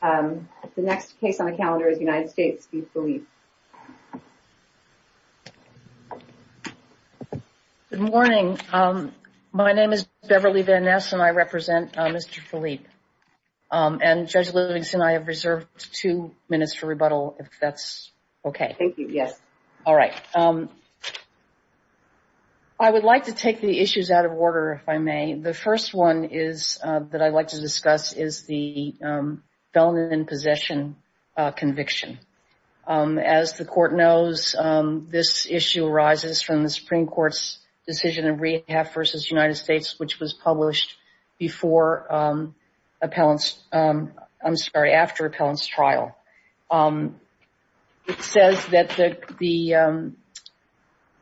Good morning. My name is Beverly Van Ness and I represent Mr. Philippe. And Judge Livingston, I have reserved two minutes for rebuttal if that's okay. Thank you. Yes. All right. I would like to take the issues out of order, if I may. The first one is that I'd in possession conviction. As the court knows, this issue arises from the Supreme Court's decision in Rehab v. United States, which was published after Appellant's trial. It says that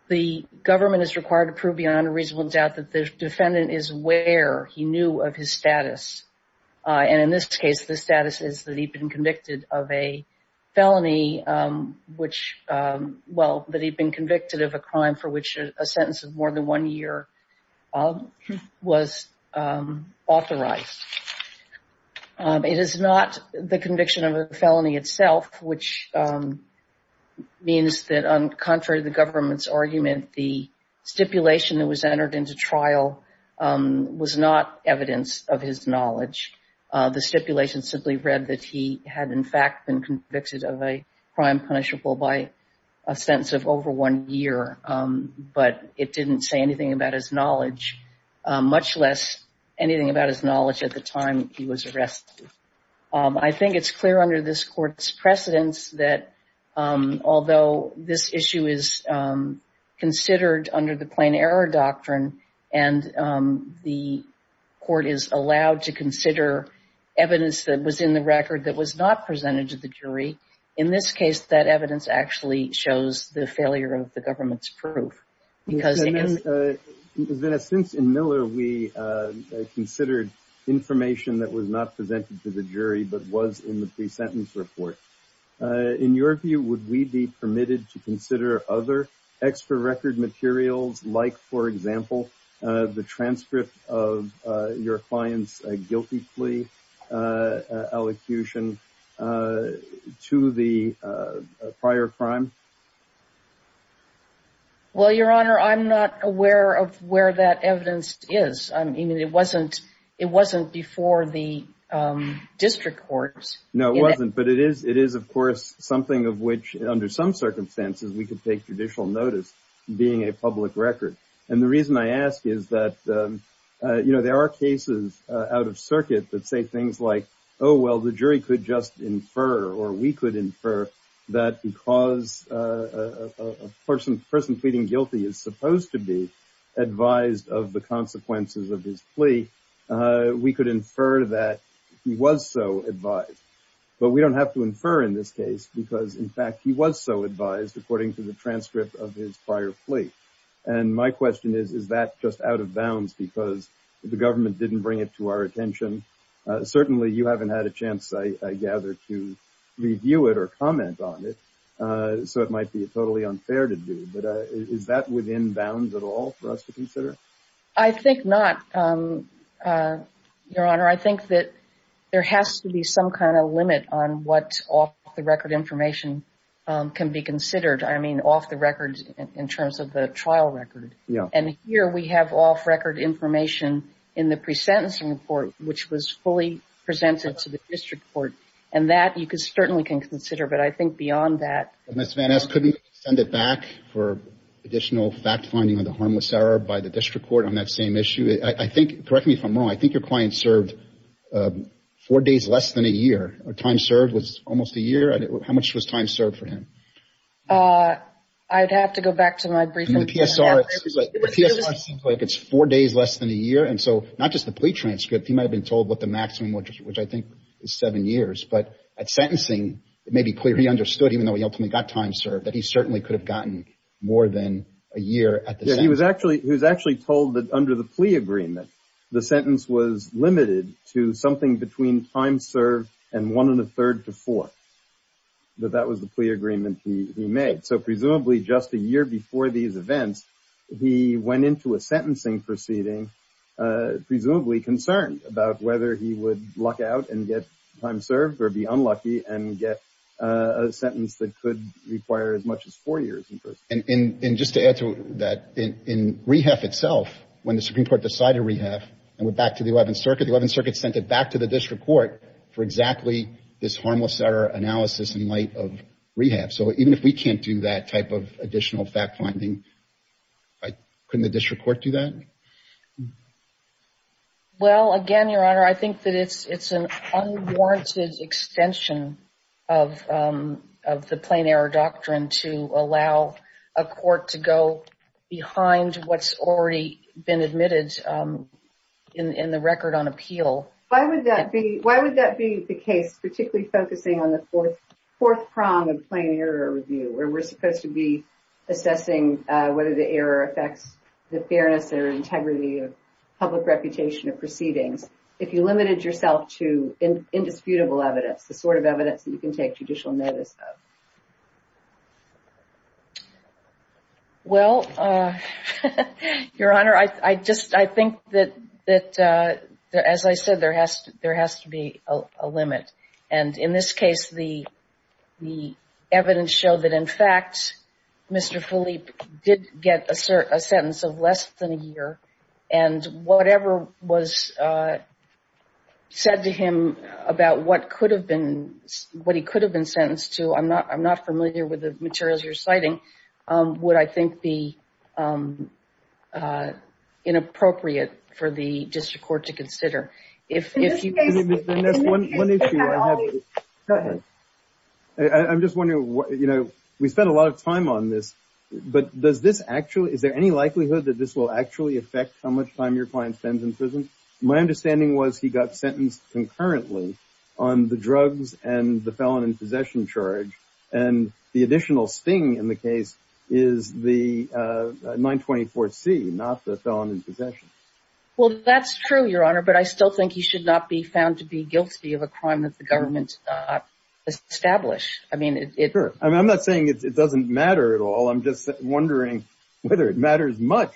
the government is required to prove beyond a reasonable doubt that the defendant is he knew of his status. And in this case, the status is that he'd been convicted of a felony, which, well, that he'd been convicted of a crime for which a sentence of more than one year was authorized. It is not the conviction of a felony itself, which means that on contrary to the government's argument, the stipulation that was entered into trial was not evidence of his knowledge. The stipulation simply read that he had in fact been convicted of a crime punishable by a sentence of over one year, but it didn't say anything about his knowledge, much less anything about his knowledge at the time he was arrested. I think it's clear under this court's precedence that although this issue is considered under the and the court is allowed to consider evidence that was in the record that was not presented to the jury, in this case, that evidence actually shows the failure of the government's proof. Because in a sense, in Miller, we considered information that was not presented to the jury, but was in the pre-sentence report. In your view, would we be permitted to consider other extra record materials like, for example, the transcript of your client's guilty plea allocution to the prior crime? Well, Your Honor, I'm not aware of where that evidence is. I mean, it wasn't before the district courts. No, it wasn't, but it is, of course, something of which under some circumstances we could take judicial notice being a public record. And the reason I ask is that, you know, there are cases out of circuit that say things like, oh, well, the jury could just infer or we could infer that because a person pleading guilty is supposed to be advised of the consequences of his plea, we could infer that he was so advised. But we don't have to infer in this case because, in fact, he was so advised according to the transcript of his prior plea. And my question is, is that just out of bounds because the government didn't bring it to our attention? Certainly, you haven't had a chance, I gather, to review it or comment on it, so it might be totally unfair to do. But is that within bounds at all for us to limit on what off-the-record information can be considered? I mean, off-the-record in terms of the trial record. And here we have off-record information in the pre-sentencing report, which was fully presented to the district court, and that you certainly can consider. But I think beyond that... Ms. Van Esk, couldn't you send it back for additional fact-finding on the harmless error by the district court on that same issue? I think, correct me if I'm wrong, I think your days less than a year. Time served was almost a year. How much was time served for him? I'd have to go back to my briefing. The PSR seems like it's four days less than a year. And so, not just the plea transcript, he might have been told what the maximum, which I think is seven years. But at sentencing, it may be clear he understood, even though he ultimately got time served, that he certainly could have gotten more than a year at the sentence. He was actually told under the plea agreement, the sentence was limited to something between time served and one and a third to four. But that was the plea agreement he made. So, presumably just a year before these events, he went into a sentencing proceeding, presumably concerned about whether he would luck out and get time served or be unlucky and get a sentence that could require as much as four when the Supreme Court decided rehab and went back to the 11th Circuit. The 11th Circuit sent it back to the district court for exactly this harmless error analysis in light of rehab. So, even if we can't do that type of additional fact-finding, couldn't the district court do that? Well, again, Your Honor, I think that it's an unwarranted extension of the plain error doctrine to allow a court to go behind what's already been admitted in the record on appeal. Why would that be the case, particularly focusing on the fourth prong of plain error review, where we're supposed to be assessing whether the error affects the fairness or integrity of public reputation of proceedings, if you limited yourself to indisputable evidence, the sort of evidence that you can take judicial notice of? Well, Your Honor, I think that, as I said, there has to be a limit. And in this case, the evidence showed that, in fact, Mr. Philippe did get a sentence of less than a year, and whatever was said to him about what he could have been sentenced to, I'm not familiar with the materials you're citing, would, I think, be inappropriate for the district court to consider. I'm just wondering, we spent a lot of time on this, but is there any likelihood that this will actually affect how much time your client spends in prison? My understanding was he got sentenced concurrently on the drugs and the felon in possession charge, and the additional sting in the case is the 924C, not the felon in possession. Well, that's true, Your Honor, but I still think he should not be found to be guilty of a crime that the government did not establish. I mean, I'm not saying it doesn't matter at all. I'm just wondering whether it matters much,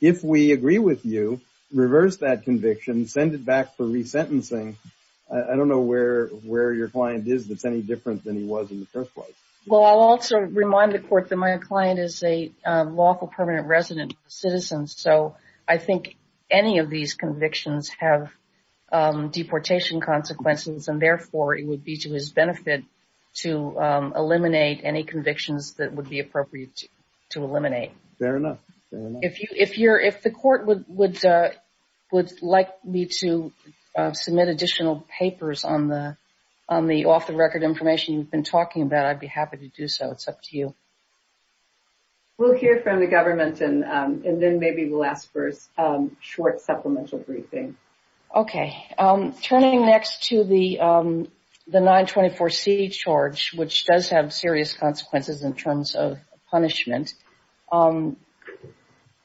if we agree with you, reverse that conviction, send it back for resentencing. I don't know where your client is that's any different than he was in the first place. Well, I'll also remind the court that my client is a lawful permanent resident citizen, so I think any of these convictions have deportation consequences, and therefore it would be to his benefit to eliminate any convictions that he has. If the court would like me to submit additional papers on the off-the-record information you've been talking about, I'd be happy to do so. It's up to you. We'll hear from the government, and then maybe we'll ask for a short supplemental briefing. Okay. Turning next to the 924C charge, which does have serious consequences in terms of punishment,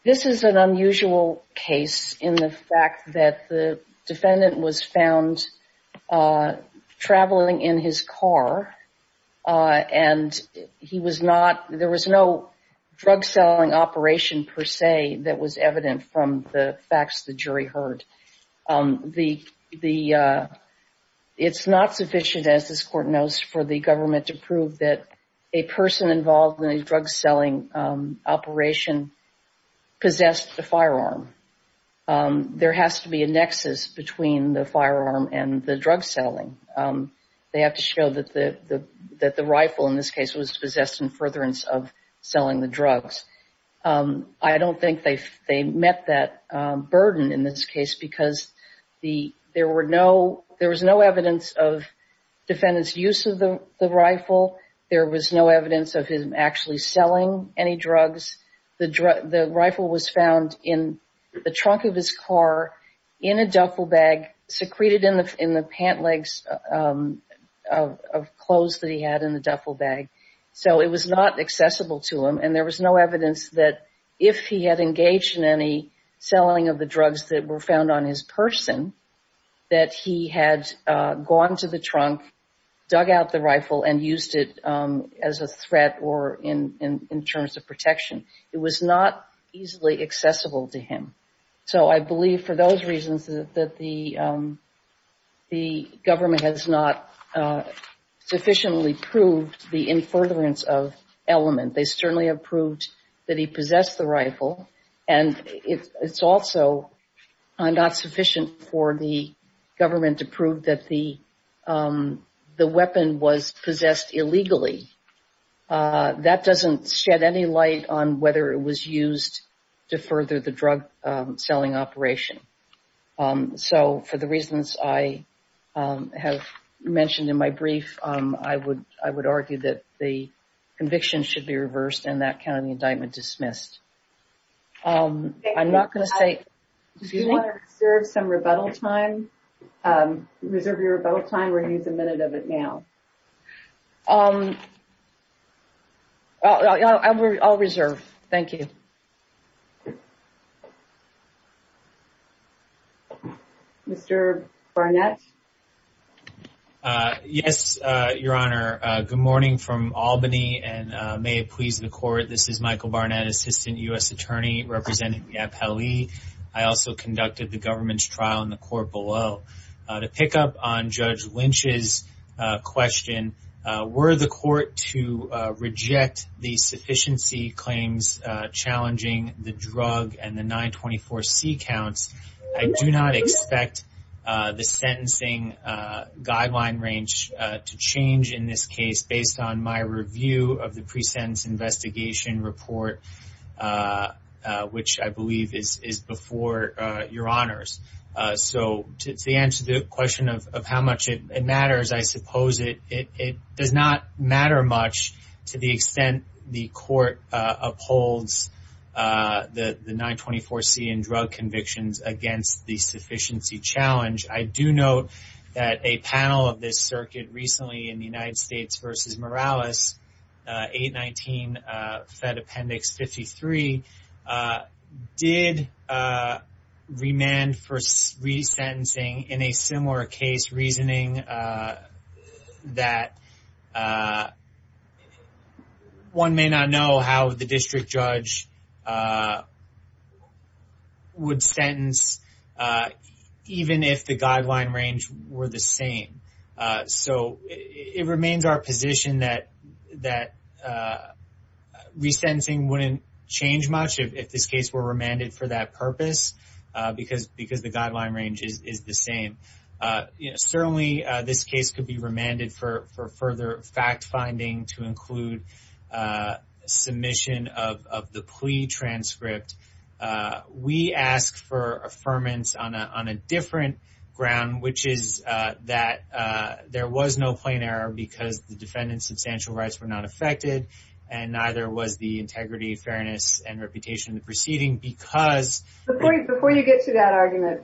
this is an unusual case in the fact that the defendant was found traveling in his car, and there was no drug selling operation per se that was evident from the facts the jury heard. It's not sufficient, as this court knows, for the government to prove that a person involved in a drug selling operation possessed a firearm. There has to be a nexus between the firearm and the drug selling. They have to show that the rifle in this case was possessed in furtherance of selling the drugs. I don't think they met that burden in this case because there was no evidence of the defendant's use of the rifle. There was no evidence of him actually selling any drugs. The rifle was found in the trunk of his car in a duffel bag, secreted in the pant legs of clothes that he had in the duffel bag. It was not accessible to him, and there was no evidence that if he had engaged in any selling of the drugs that were found on his person that he had gone to the trunk, dug out the rifle, and used it as a threat or in terms of protection. It was not easily accessible to him. So I believe for those reasons that the government has not sufficiently proved the in furtherance of element. They certainly have proved that he possessed the rifle, and it's also not sufficient for the government to prove that the weapon was possessed illegally. That doesn't shed any light on whether it was used to further the drug selling operation. So for the reasons I have mentioned in my brief, I would argue that the conviction should be reversed and that kind of the indictment dismissed. I'm not going to say, do you want to reserve some rebuttal time? Reserve your rebuttal time. We're going to use a minute of it now. I'll reserve. Thank you. Mr. Barnett? Yes, Your Honor. Good morning from Albany, and may it please the Court. This is Michael Barnett, Assistant U.S. Attorney, representing YAP-LE. I also conducted the government's trial in the court below. To pick up on Judge Lynch's question, were the Court to reject the sufficiency claims challenging the drug and the 924C counts, I do not expect the sentencing guideline range to change in this case based on my review of the pre-sentence investigation report, which I believe is before Your Honors. So to answer the question of how much it matters, I suppose it does not matter much to the extent the Court upholds the 924C and drug convictions against the sufficiency challenge. I do note that a panel of this circuit recently in the United States versus Morales, 819 Fed Appendix 53, did remand for resentencing in a similar case reasoning that one may not know how the district judge would sentence even if the guideline range were the same. So it remains our position that resentencing wouldn't change much if this case were remanded for that purpose, because the guideline range is the same. Certainly, this case could be remanded for further fact-finding to include submission of the plea transcript. We ask for affirmance on a different ground, which is that there was no plain error because the defendant's substantial rights were not affected, and neither was the integrity, fairness, and reputation of the proceeding. Before you get to that argument,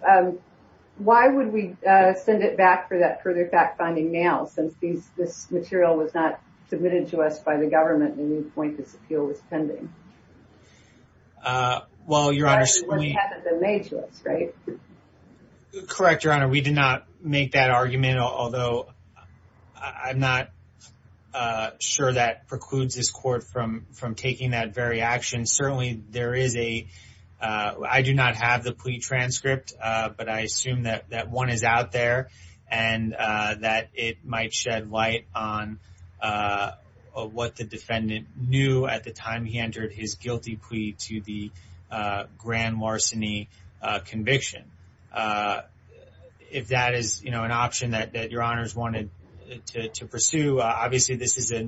why would we send it back for that further fact-finding now, since this material was not submitted to us by the government at any point this appeal was pending? Correct, Your Honor. We did not make that argument, although I'm not sure that precludes this court from taking that very action. Certainly, I do not have the plea transcript, but I assume that one is out there and that it might shed light on what the defendant knew at the time he entered his guilty plea to the larceny conviction. If that is an option that Your Honors wanted to pursue, obviously, this is a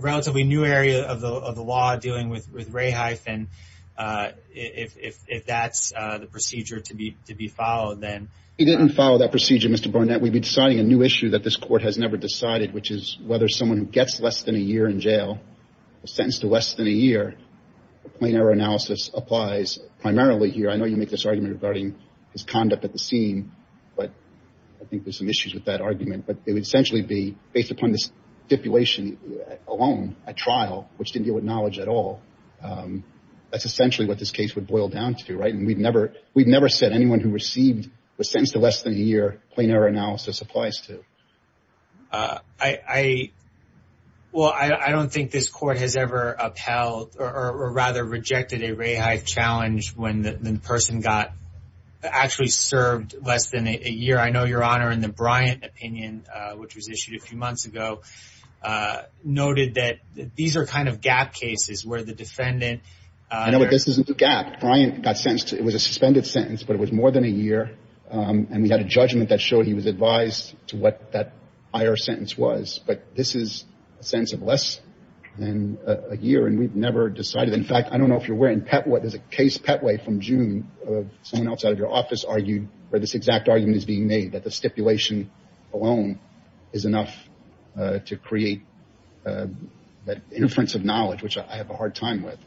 relatively new area of the law dealing with raheifen. If that's the procedure to be followed, then... He didn't follow that procedure, Mr. Burnett. We've been deciding a new issue that this court has never decided, which is whether someone who gets less than a year in jail, sentenced to less than a year, plain error analysis applies primarily here. I know you make this argument regarding his conduct at the scene, but I think there's some issues with that argument. But it would essentially be based upon this stipulation alone, a trial, which didn't deal with knowledge at all. That's essentially what this case would boil down to, right? And we've never said anyone who received was sentenced to less than a year, plain error analysis applies to. Well, I don't think this court has ever upheld or rather rejected a raheif challenge when the person got actually served less than a year. I know Your Honor, in the Bryant opinion, which was issued a few months ago, noted that these are kind of gap cases where the defendant... I know, but this isn't a gap. Bryant got sentenced. It was a suspended sentence, but it was more than a year. And we had a judgment that showed he was advised to what that higher sentence was. But this is a sense of less than a year. And we've never decided. In fact, I don't know if you're aware in Petwa, there's a case, Petwa from June, of someone else out of your office argued where this exact argument is being made, that the stipulation alone is enough to create that inference of knowledge, which I have a hard time with.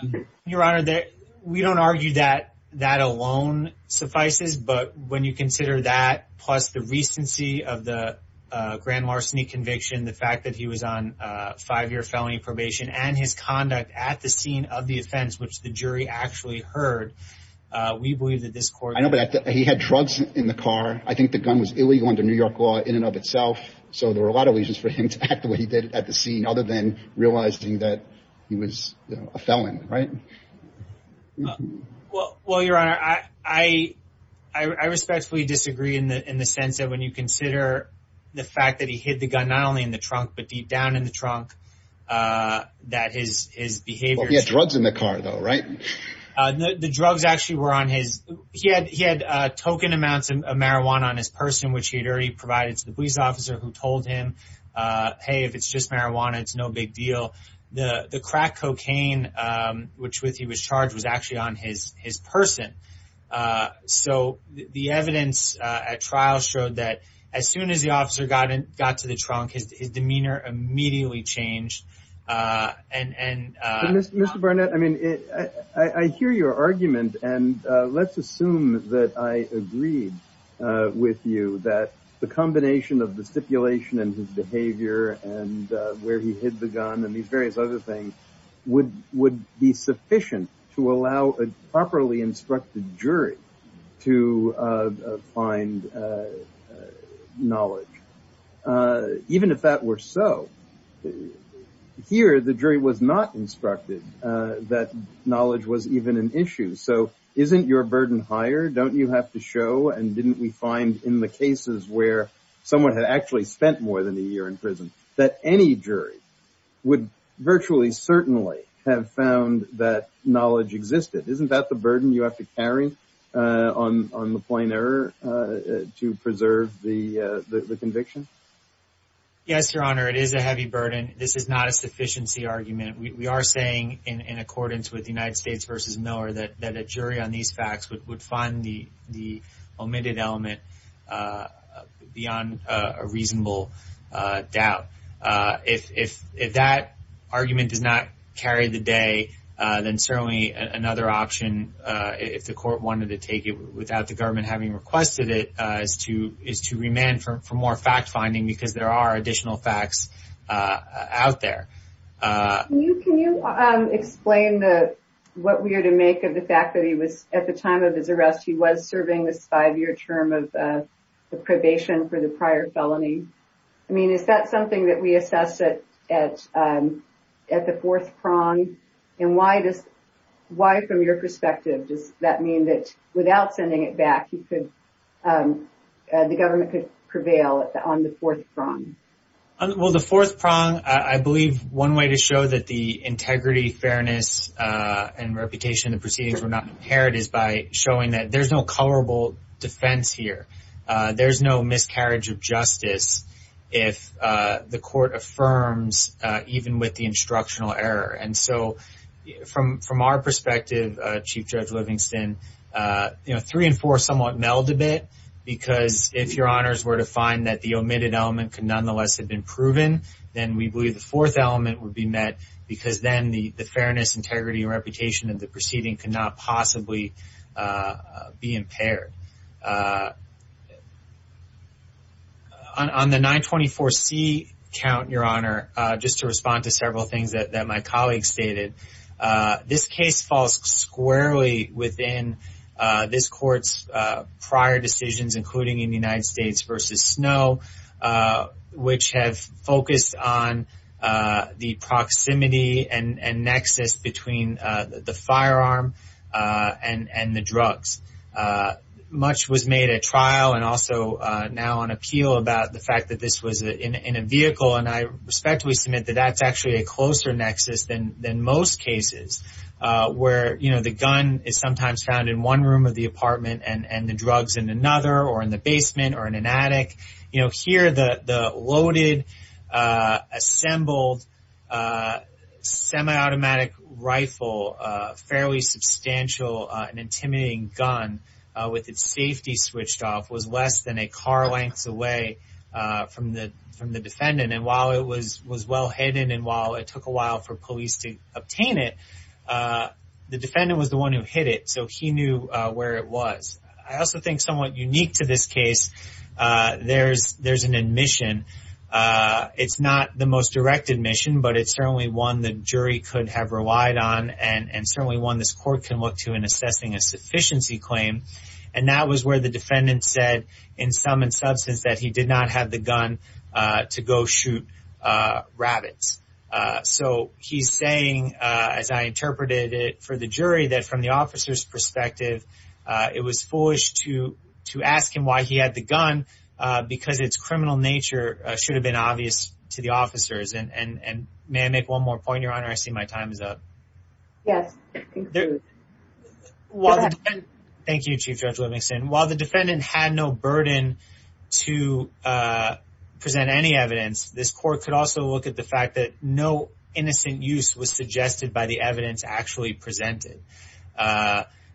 And Your Honor, we don't argue that that alone suffices. But when you consider that, plus the recency of the grand larceny conviction, the fact that he was on five-year felony probation and his conduct at the scene of the offense, which the jury actually heard, we believe that this court... I know, but he had drugs in the car. I think the gun was illegal under New York law in and of itself. So there were a lot of reasons for him to act the way he did at the scene, other than realizing that he was a felon, right? Well, Your Honor, I respectfully disagree in the sense that when you consider the fact that he hid the gun not only in the trunk, but deep down in the trunk, that his behavior... Well, he had drugs in the car though, right? The drugs actually were on his... He had token amounts of marijuana on his purse, in which he had already provided to the police officer who told him, hey, if it's just marijuana, it's no big deal. The crack cocaine with which he was charged was actually on his person. So the evidence at trial showed that as soon as the officer got to the trunk, his demeanor immediately changed. Mr. Barnett, I hear your argument, and let's assume that I agreed with you that the combination of the stipulation and his behavior and where he hid the gun and these various other things would be sufficient to allow a properly instructed jury to find knowledge, even if that were so. Here, the jury was not instructed that knowledge was an issue. So isn't your burden higher? Don't you have to show, and didn't we find in the cases where someone had actually spent more than a year in prison, that any jury would virtually certainly have found that knowledge existed? Isn't that the burden you have to carry on the plainer to preserve the conviction? Yes, Your Honor, it is a heavy burden. This is not a sufficiency argument. We are saying, in accordance with United States v. Miller, that a jury on these facts would find the omitted element beyond a reasonable doubt. If that argument does not carry the day, then certainly another option, if the court wanted to take it without the government having requested it, is to remand for more fact-finding because there are additional facts out there. Can you explain what we are to make of the fact that at the time of his arrest, he was serving this five-year term of probation for the prior felony? Is that something that we assess at the fourth prong? Why, from your perspective, does that mean that without I believe one way to show that the integrity, fairness, and reputation of the proceedings were not impaired is by showing that there is no colorable defense here. There is no miscarriage of justice if the court affirms even with the instructional error. From our perspective, Chief Judge Livingston, three and four somewhat meld a bit because if Your Honors were to find that the omitted element could nonetheless have been proven, then we believe the fourth element would be met because then the fairness, integrity, and reputation of the proceeding could not possibly be impaired. On the 924C count, Your Honor, just to respond to several things that my colleague stated, this case falls squarely within this court's prior decisions, including in the United States v. Snow, which have focused on the proximity and nexus between the firearm and the drugs. Much was made at trial and also now on appeal about the fact that this was in a vehicle, and I respectfully submit that that's actually a closer nexus than most cases, where the gun is sometimes found in one room of the apartment and the drugs in another or in the basement or in an attic. Here, the loaded, assembled, semi-automatic rifle, a fairly substantial and intimidating gun with its safety switched off, was less than a car length away from the defendant. While it was well hidden and while it took a while for police to obtain it, the defendant was the one who hit it, so he knew where it was. I also think somewhat unique to this case, there's an admission. It's not the most direct admission, but it's certainly one the jury could have relied on and certainly one this court can look to in assessing a sufficiency claim, and that was where the defendant said, in sum and substance, that he did not have the gun to go shoot rabbits. So he's saying, as I interpreted it for the jury, that from the gun, because of its criminal nature, it should have been obvious to the officers. May I make one more point, Your Honor? I see my time is up. Thank you, Chief Judge Livingston. While the defendant had no burden to present any evidence, this court could also look at the fact that no innocent use was suggested by the evidence actually presented.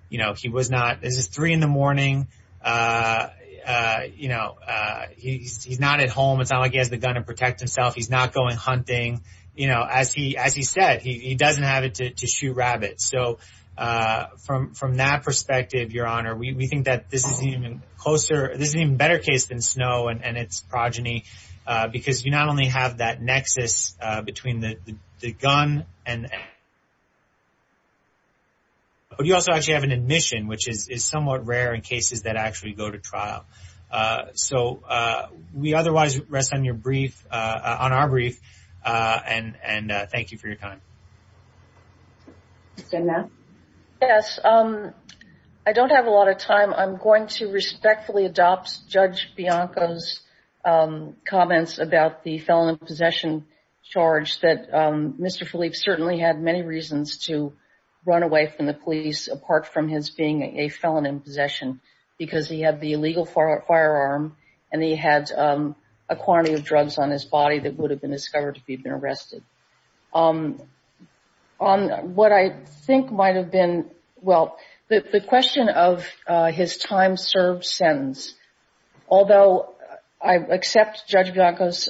This is three in the morning. He's not at home. It's not like he has the gun to protect himself. He's not going hunting. As he said, he doesn't have it to shoot rabbits. So from that perspective, Your Honor, we think that this is an even better case than Snow and its evidence. But you also actually have an admission, which is somewhat rare in cases that actually go to trial. So we otherwise rest on your brief, on our brief, and thank you for your time. Yes, I don't have a lot of time. I'm going to respectfully adopt Judge Bianco's comments about the felon in possession charge, that Mr. Felipe certainly had many reasons to run away from the police apart from his being a felon in possession, because he had the illegal firearm and he had a quantity of drugs on his body that would have been discovered if he'd been arrested. On what I think might have been, well, the question of his time served sentence, although I accept Judge Bianco's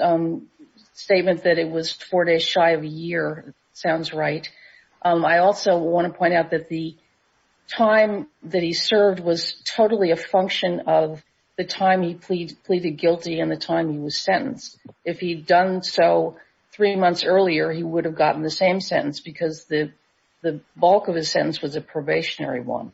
statement that it was four days shy of a year, sounds right. I also want to point out that the time that he served was totally a function of the time he pleaded guilty and the time he was sentenced. If he'd done so three months earlier, he would have gotten the same sentence because the bulk of his sentence was a probationary one.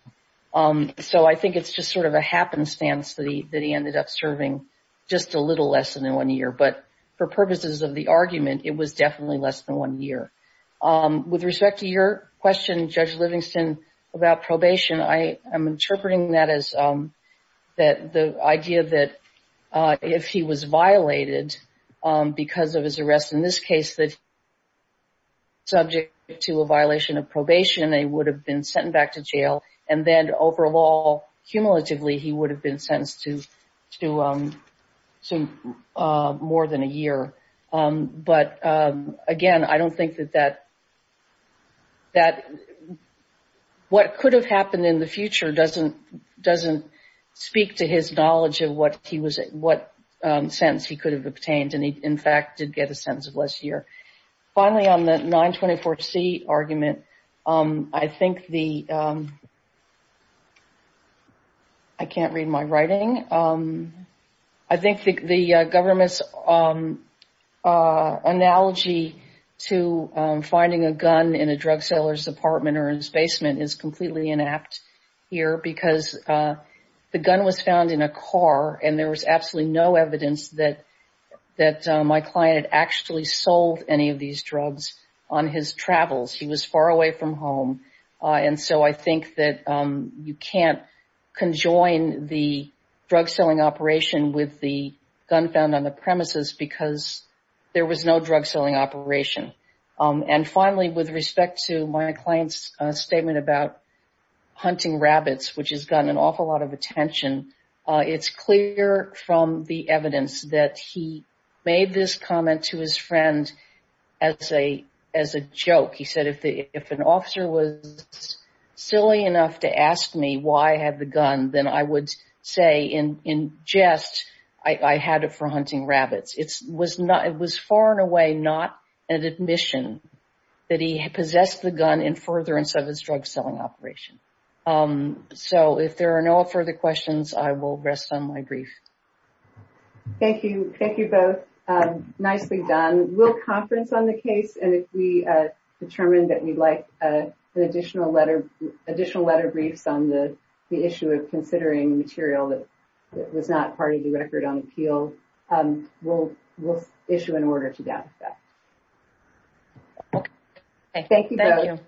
So I think it's just sort of a happenstance that he ended up serving just a little less than one year, but for purposes of the argument, it was definitely less than one year. With respect to your question, Judge Livingston, about probation, I am interpreting that as the idea that if he was violated because of his arrest in this case, that subject to a violation of probation, they would have been sent back to jail and then overall, cumulatively, he would have been sentenced to more than a year. But again, I don't think that what could have happened in the future doesn't speak to his knowledge of what sentence he could have obtained and he, in fact, did get the sentence of less year. Finally, on the 924C argument, I think the, I can't read my writing, I think the government's analogy to finding a gun in a drug seller's apartment or in his basement is completely inapt here because the gun was found in a car and there was absolutely no evidence that my client had actually sold any of these drugs on his travels. He was far away from home and so I think that you can't conjoin the drug selling operation with the gun found on the premises because there was no drug selling operation. And finally, with respect to my client's statement about hunting rabbits, which has gotten an awful lot of attention, it's clear from the evidence that he made this comment to his friend as a joke. He said, if an officer was silly enough to ask me why I had the gun, then I would say in jest, I had it for hunting rabbits. It was far and away not an admission that he possessed the gun in furtherance of his drug selling operation. So if there are no further questions, I will rest on my brief. Thank you. Thank you both. Nicely done. We'll conference on the case and if we determine that we'd like additional letter briefs on the issue of considering material that was not part of the Record on Appeal, we'll issue an order to that effect. Thank you.